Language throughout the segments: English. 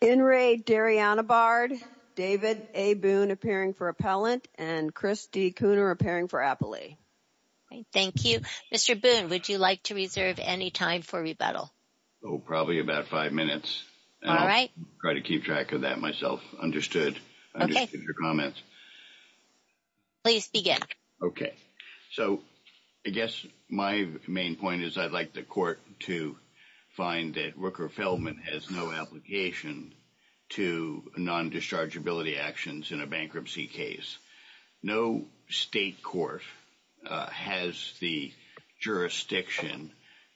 In Re, Darianna Bard, David A. Boone appearing for Appellant, and Chris D. Kooner appearing for Appellee. Thank you. Mr. Boone, would you like to reserve any time for rebuttal? Oh, probably about five minutes. All right. I'll try to keep track of that myself. Understood. Okay. I understood your comments. Please begin. Okay. So, I guess my main point is I'd like the court to find that Rooker-Feldman has no application to non-dischargeability actions in a bankruptcy case. No state court has the jurisdiction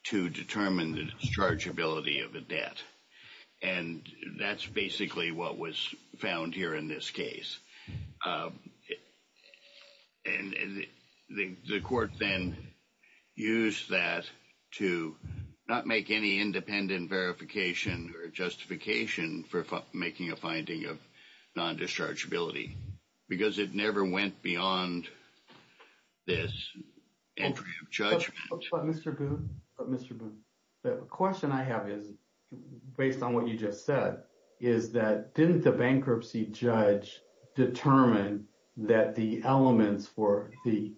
to determine the dischargeability of a debt. And that's basically what was found here in this case. And the court then used that to not make any independent verification or justification for making a finding of non-dischargeability. Because it never went beyond this entry of judgment. Mr. Boone, the question I have is, based on what you just said, is that didn't the bankruptcy judge determine that the elements for the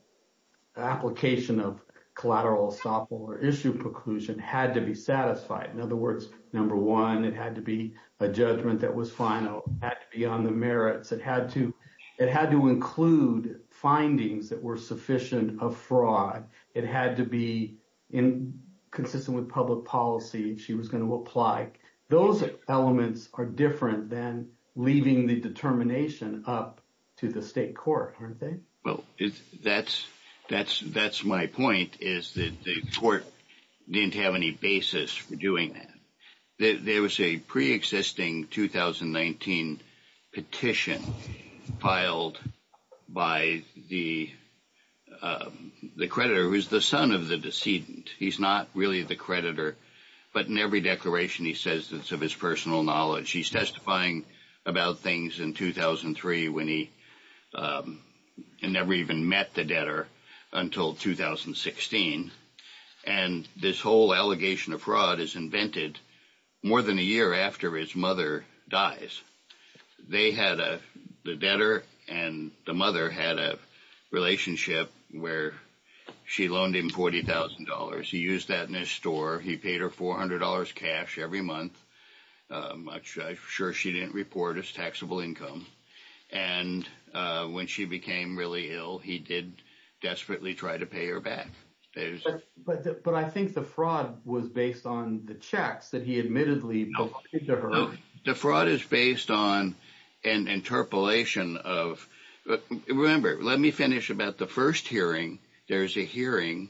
application of collateral estoppel or issue preclusion had to be satisfied? In other words, number one, it had to be a judgment that was final. It had to be on the merits. It had to include findings that were sufficient of fraud. It had to be consistent with public policy she was going to apply. Those elements are different than leaving the determination up to the state court, aren't they? Well, that's my point, is that the court didn't have any basis for doing that. There was a preexisting 2019 petition filed by the creditor, who is the son of the decedent. He's not really the creditor, but in every declaration he says it's of his personal knowledge. He's testifying about things in 2003 when he never even met the debtor until 2016. And this whole allegation of fraud is invented more than a year after his mother dies. The debtor and the mother had a relationship where she loaned him $40,000. He used that in his store. He paid her $400 cash every month, which I'm sure she didn't report as taxable income. And when she became really ill, he did desperately try to pay her back. But I think the fraud was based on the checks that he admittedly put into her. No, the fraud is based on an interpolation of – remember, let me finish about the first hearing. There's a hearing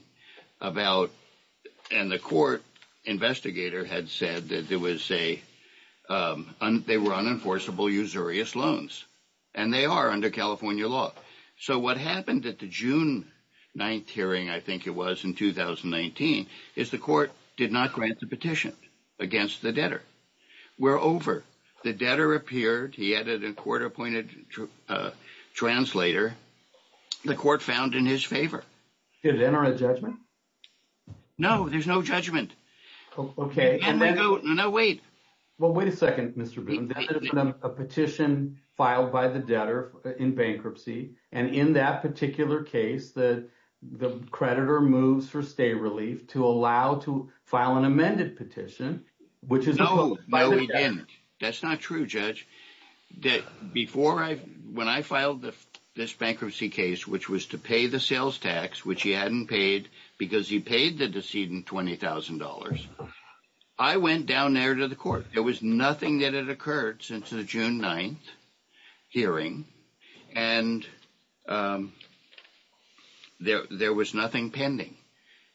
about – and the court investigator had said that there was a – they were unenforceable usurious loans. And they are under California law. So what happened at the June 9th hearing, I think it was, in 2019, is the court did not grant the petition against the debtor. We're over. The debtor appeared. He added a court-appointed translator. The court found in his favor. Did it enter a judgment? No, there's no judgment. Okay. No, wait. Well, wait a second, Mr. Bloom. That is a petition filed by the debtor in bankruptcy. And in that particular case, the creditor moves for stay relief to allow to file an amended petition, which is – No, we didn't. That's not true, Judge. Before I – when I filed this bankruptcy case, which was to pay the sales tax, which he hadn't paid because he paid the decedent $20,000, I went down there to the court. There was nothing that had occurred since the June 9th hearing. And there was nothing pending.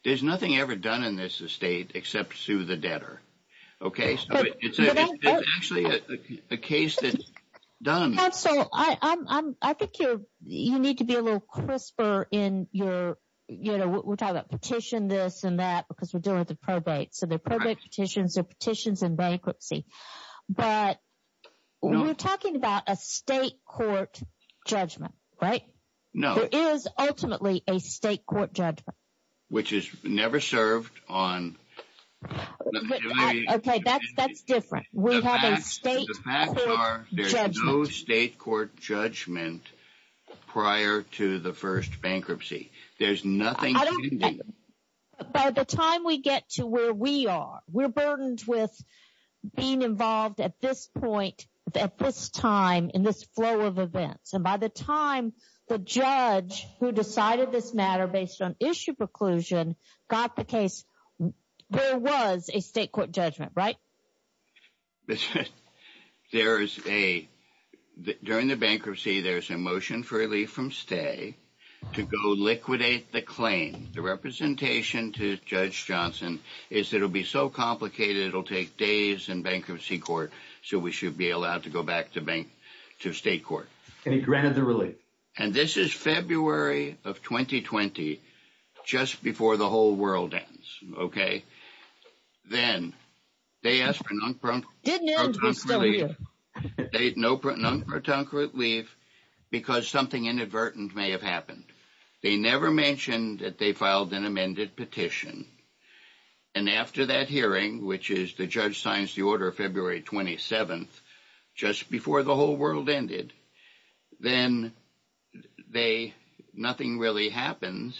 There's nothing ever done in this estate except sue the debtor. Okay. It's actually a case that's done. Counsel, I think you need to be a little crisper in your – we're talking about petition this and that because we're dealing with a probate. So they're probate petitions. They're petitions in bankruptcy. But we're talking about a state court judgment, right? No. There is ultimately a state court judgment. Which is never served on – Okay, that's different. We have a state court judgment. The facts are there's no state court judgment prior to the first bankruptcy. There's nothing pending. By the time we get to where we are, we're burdened with being involved at this point, at this time, in this flow of events. And by the time the judge who decided this matter based on issue preclusion got the case, there was a state court judgment, right? There is a – during the bankruptcy, there's a motion for relief from stay to go liquidate the claim. The representation to Judge Johnson is that it will be so complicated it will take days in bankruptcy court. So we should be allowed to go back to state court. And he granted the relief. And this is February of 2020, just before the whole world ends, okay? Then they asked for non-proton relief. Didn't end, we're still here. No non-proton relief because something inadvertent may have happened. They never mentioned that they filed an amended petition. And after that hearing, which is the judge signs the order February 27th, just before the whole world ended, then they – nothing really happens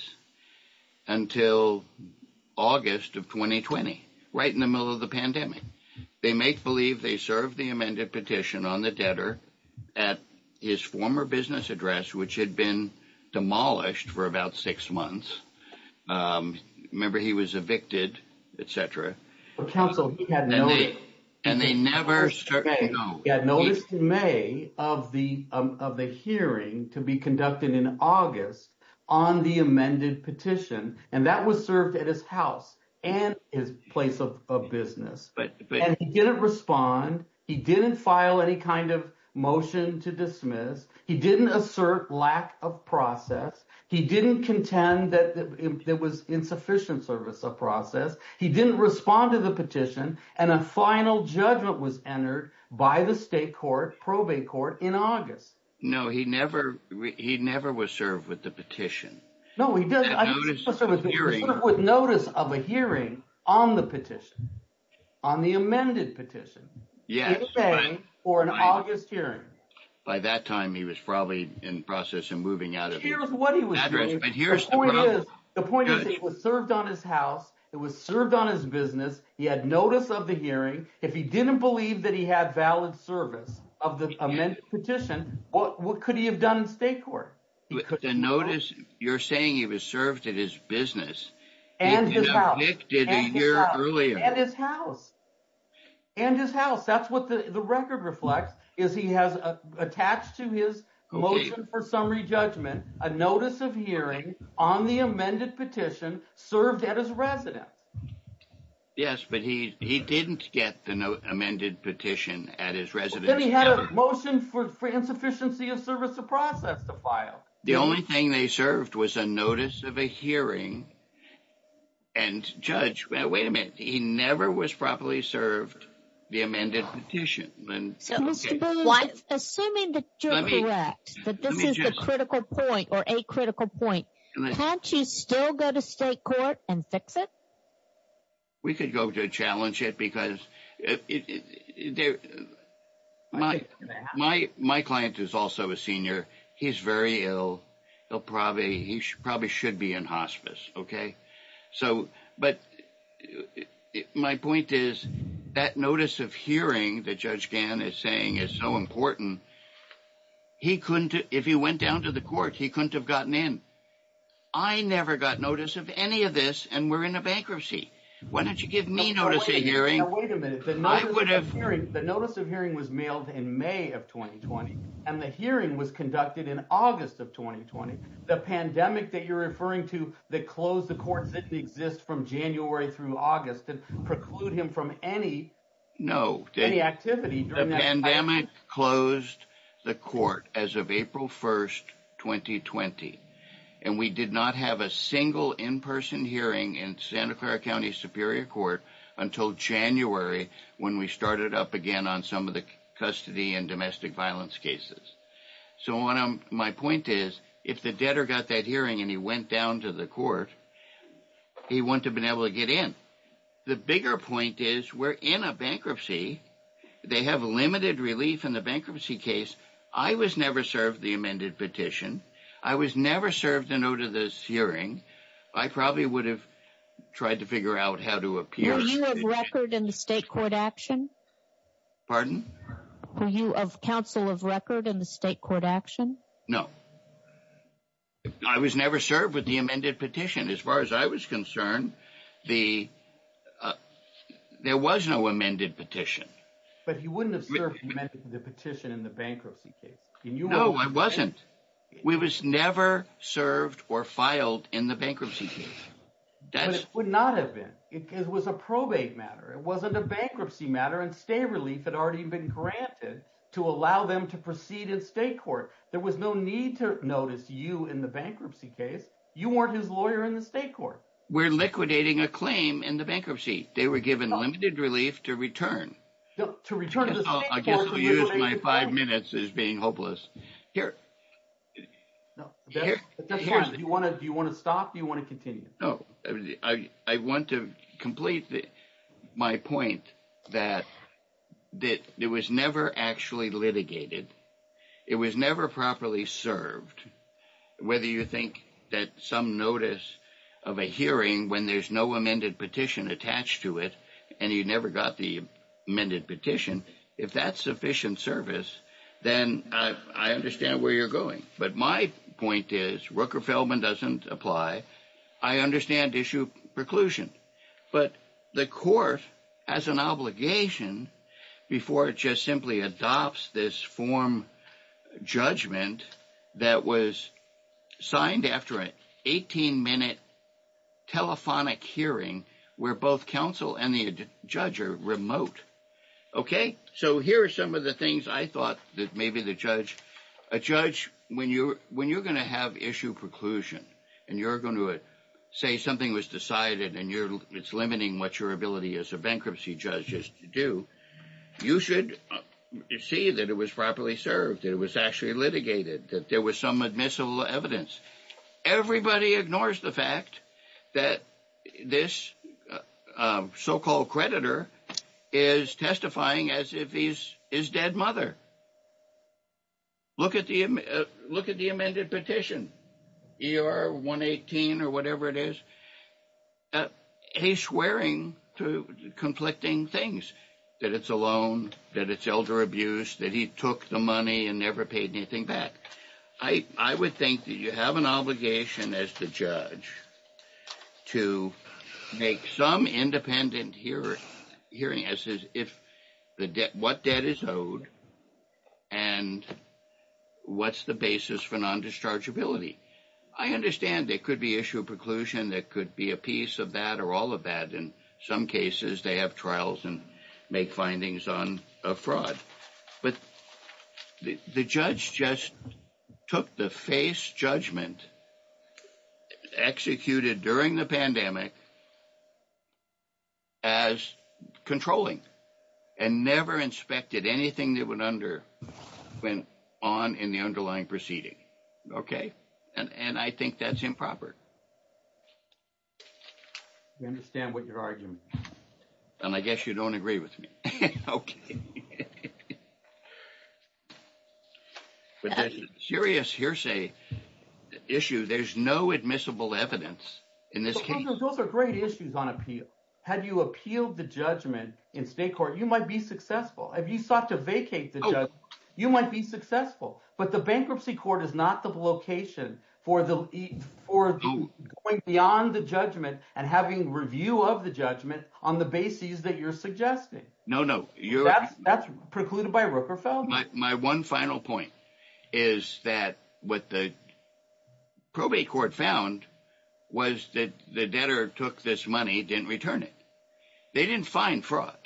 until August of 2020, right in the middle of the pandemic. They make believe they served the amended petition on the debtor at his former business address, which had been demolished for about six months. Remember, he was evicted, et cetera. Counsel, he had no – And they never – He had noticed in May of the hearing to be conducted in August on the amended petition. And that was served at his house and his place of business. And he didn't respond. He didn't file any kind of motion to dismiss. He didn't assert lack of process. He didn't contend that there was insufficient service of process. He didn't respond to the petition. And a final judgment was entered by the state court, probate court, in August. No, he never was served with the petition. No, he didn't. He was served with notice of a hearing on the petition, on the amended petition. Yes. For an August hearing. By that time, he was probably in the process of moving out of – But here's what he was doing. But here's the problem. The point is it was served on his house. It was served on his business. He had notice of the hearing. If he didn't believe that he had valid service of the amended petition, what could he have done in state court? The notice – you're saying he was served at his business. And his house. He was evicted a year earlier. And his house. And his house. That's what the record reflects, is he has attached to his motion for summary judgment a notice of hearing on the amended petition served at his residence. Yes, but he didn't get the amended petition at his residence. Then he had a motion for insufficiency of service of process to file. The only thing they served was a notice of a hearing. And, Judge, wait a minute. He never was properly served the amended petition. So, Mr. Boone, assuming that you're correct, that this is the critical point or a critical point, can't you still go to state court and fix it? We could go to challenge it because – My client is also a senior. He's very ill. He probably should be in hospice, okay? So, but my point is that notice of hearing that Judge Gann is saying is so important, he couldn't – if he went down to the court, he couldn't have gotten in. I never got notice of any of this and we're in a bankruptcy. Why don't you give me notice of hearing? Wait a minute. I would have – The notice of hearing was mailed in May of 2020 and the hearing was conducted in August of 2020. The pandemic that you're referring to that closed the court didn't exist from January through August. It preclude him from any – No. Any activity during that time. The pandemic closed the court as of April 1st, 2020, and we did not have a single in-person hearing in Santa Clara County Superior Court until January when we started up again on some of the custody and domestic violence cases. So, my point is if the debtor got that hearing and he went down to the court, he wouldn't have been able to get in. The bigger point is we're in a bankruptcy. They have limited relief in the bankruptcy case. I was never served the amended petition. I was never served a notice of hearing. I probably would have tried to figure out how to appear. Were you of record in the state court action? Pardon? Were you of counsel of record in the state court action? No. I was never served with the amended petition. As far as I was concerned, there was no amended petition. But you wouldn't have served the petition in the bankruptcy case. No, I wasn't. We was never served or filed in the bankruptcy case. But it would not have been. It was a probate matter. It wasn't a bankruptcy matter, and state relief had already been granted to allow them to proceed in state court. There was no need to notice you in the bankruptcy case. You weren't his lawyer in the state court. We're liquidating a claim in the bankruptcy. They were given limited relief to return. To return to the state court. I guess I'll use my five minutes as being hopeless. Here. Do you want to stop or do you want to continue? I want to complete my point that it was never actually litigated. It was never properly served. Whether you think that some notice of a hearing when there's no amended petition attached to it and you never got the amended petition, if that's sufficient service, then I understand where you're going. But my point is, Rooker-Feldman doesn't apply. I understand issue preclusion. But the court has an obligation before it just simply adopts this form judgment that was signed after an 18-minute telephonic hearing where both counsel and the judge are remote. Okay? So here are some of the things I thought that maybe the judge. A judge, when you're going to have issue preclusion and you're going to say something was decided and it's limiting what your ability as a bankruptcy judge is to do, you should see that it was properly served, that it was actually litigated, that there was some admissible evidence. Everybody ignores the fact that this so-called creditor is testifying as if he's dead mother. Look at the amended petition, ER 118 or whatever it is. He's swearing to conflicting things, that it's a loan, that it's elder abuse, that he took the money and never paid anything back. I would think that you have an obligation as the judge to make some independent hearing as to what debt is owed and what's the basis for non-dischargeability. I understand there could be issue preclusion. There could be a piece of that or all of that. In some cases, they have trials and make findings on a fraud. But the judge just took the face judgment executed during the pandemic as controlling and never inspected anything that went on in the underlying proceeding. Okay. And I think that's improper. I understand what you're arguing. And I guess you don't agree with me. Okay. Serious hearsay issue, there's no admissible evidence in this case. Those are great issues on appeal. Had you appealed the judgment in state court, you might be successful. If you sought to vacate the judge, you might be successful. But the bankruptcy court is not the location for going beyond the judgment and having review of the judgment on the basis that you're suggesting. No, no. That's precluded by Rooker felon. My one final point is that what the probate court found was that the debtor took this money, didn't return it. They didn't find fraud.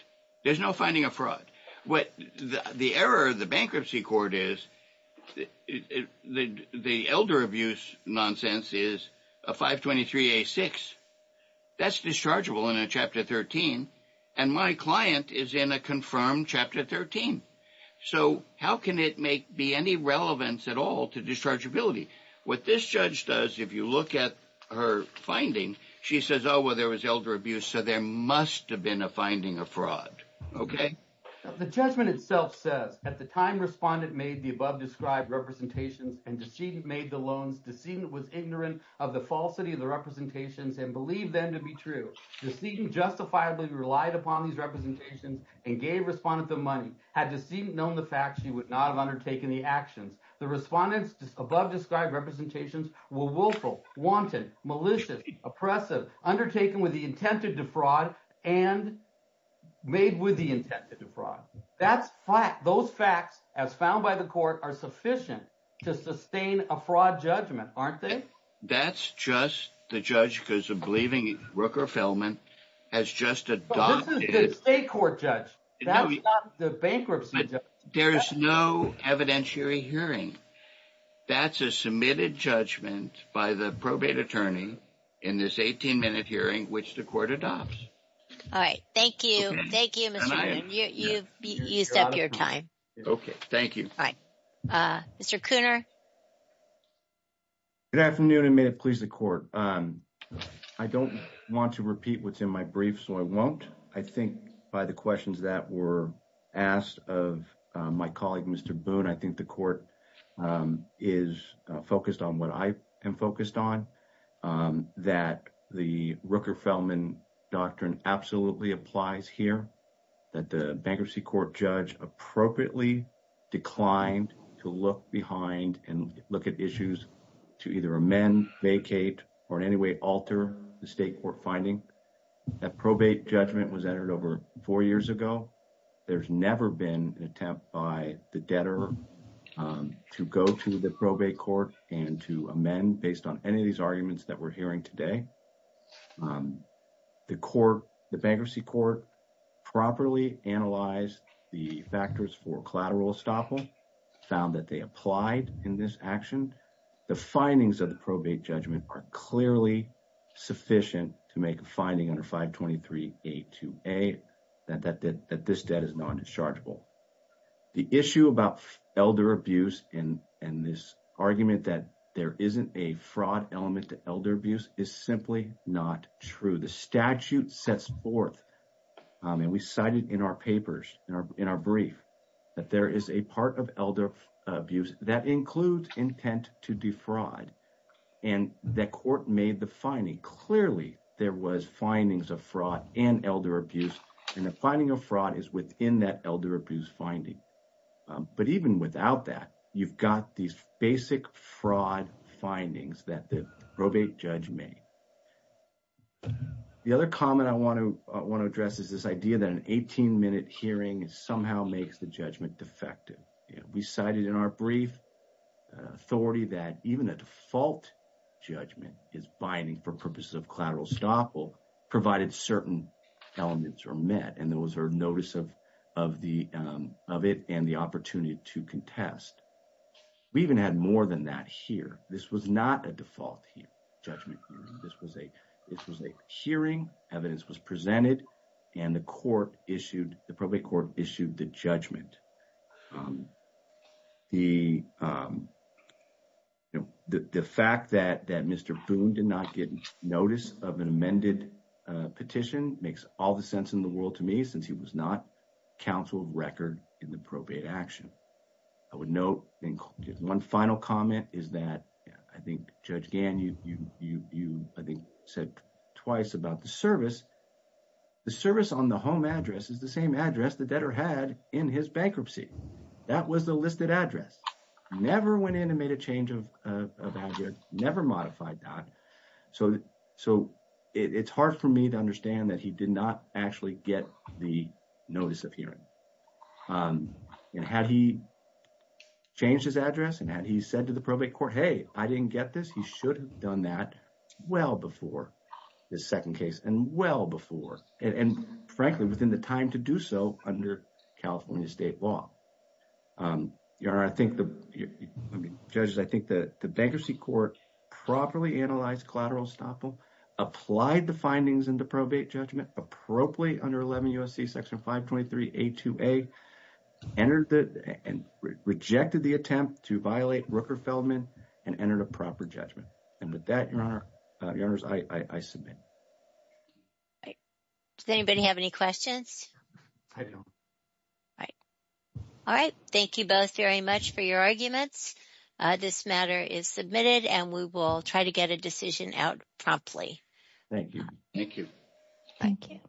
There's no finding of fraud. The error of the bankruptcy court is the elder abuse nonsense is a 523A6. That's dischargeable in a chapter 13. And my client is in a confirmed chapter 13. So how can it make be any relevance at all to dischargeability? What this judge does, if you look at her finding, she says, oh, well, there was elder abuse, so there must have been a finding of fraud. Okay. The judgment itself says, at the time respondent made the above described representations and decedent made the loans, decedent was ignorant of the falsity of the representations and believed them to be true. Decedent justifiably relied upon these representations and gave respondent the money. Had decedent known the fact, she would not have undertaken the actions. The respondents above described representations were willful, wanted, malicious, oppressive, undertaken with the intent to defraud, and made with the intent to defraud. That's fact. Those facts, as found by the court, are sufficient to sustain a fraud judgment, aren't they? That's just the judge because of believing Rooker Feldman has just adopted. This is the state court judge. That's not the bankruptcy judge. There is no evidentiary hearing. That's a submitted judgment by the probate attorney in this 18-minute hearing, which the court adopts. All right. Thank you. Thank you. You've used up your time. Okay. Thank you. All right. Mr. Cooner. Good afternoon, and may it please the court. I don't want to repeat what's in my brief, so I won't. I think by the questions that were asked of my colleague, Mr. Boone, I think the court is focused on what I am focused on, that the Rooker Feldman doctrine absolutely applies here. The bankruptcy court judge appropriately declined to look behind and look at issues to either amend, vacate, or in any way alter the state court finding. That probate judgment was entered over four years ago. There's never been an attempt by the debtor to go to the probate court and to amend based on any of these arguments that we're hearing today. The bankruptcy court properly analyzed the factors for collateral estoppel, found that they applied in this action. The findings of the probate judgment are clearly sufficient to make a finding under 523A2A that this debt is non-dischargeable. The issue about elder abuse and this argument that there isn't a fraud element to elder abuse is simply not true. The statute sets forth, and we cited in our papers, in our brief, that there is a part of elder abuse that includes intent to defraud. And the court made the finding. Clearly, there was findings of fraud and elder abuse, and the finding of fraud is within that elder abuse finding. But even without that, you've got these basic fraud findings that the probate judge made. The other comment I want to address is this idea that an 18-minute hearing somehow makes the judgment defective. We cited in our brief authority that even a default judgment is binding for purposes of collateral estoppel provided certain elements are met. And there was a notice of it and the opportunity to contest. We even had more than that here. This was not a default judgment. This was a hearing. Evidence was presented. And the court issued, the probate court issued the judgment. The fact that Mr. Boone did not get notice of an amended petition makes all the sense in the world to me since he was not counsel of record in the probate action. I would note one final comment is that I think Judge Gann, you I think said twice about the service. The service on the home address is the same address the debtor had in his bankruptcy. That was the listed address. Never went in and made a change of address, never modified that. So it's hard for me to understand that he did not actually get the notice of hearing. And had he changed his address and had he said to the probate court, hey, I didn't get this. He should have done that well before the second case and well before. And frankly, within the time to do so under California state law. Your honor, I think the judges, I think that the bankruptcy court properly analyzed collateral estoppel, applied the findings in the probate judgment appropriately under 11 U.S.C. section 523 A2A, entered and rejected the attempt to violate Rooker Feldman and entered a proper judgment. And with that, your honor, your honors, I submit. Does anybody have any questions? All right. All right. Thank you both very much for your arguments. This matter is submitted and we will try to get a decision out promptly. Thank you. Thank you. Thank you.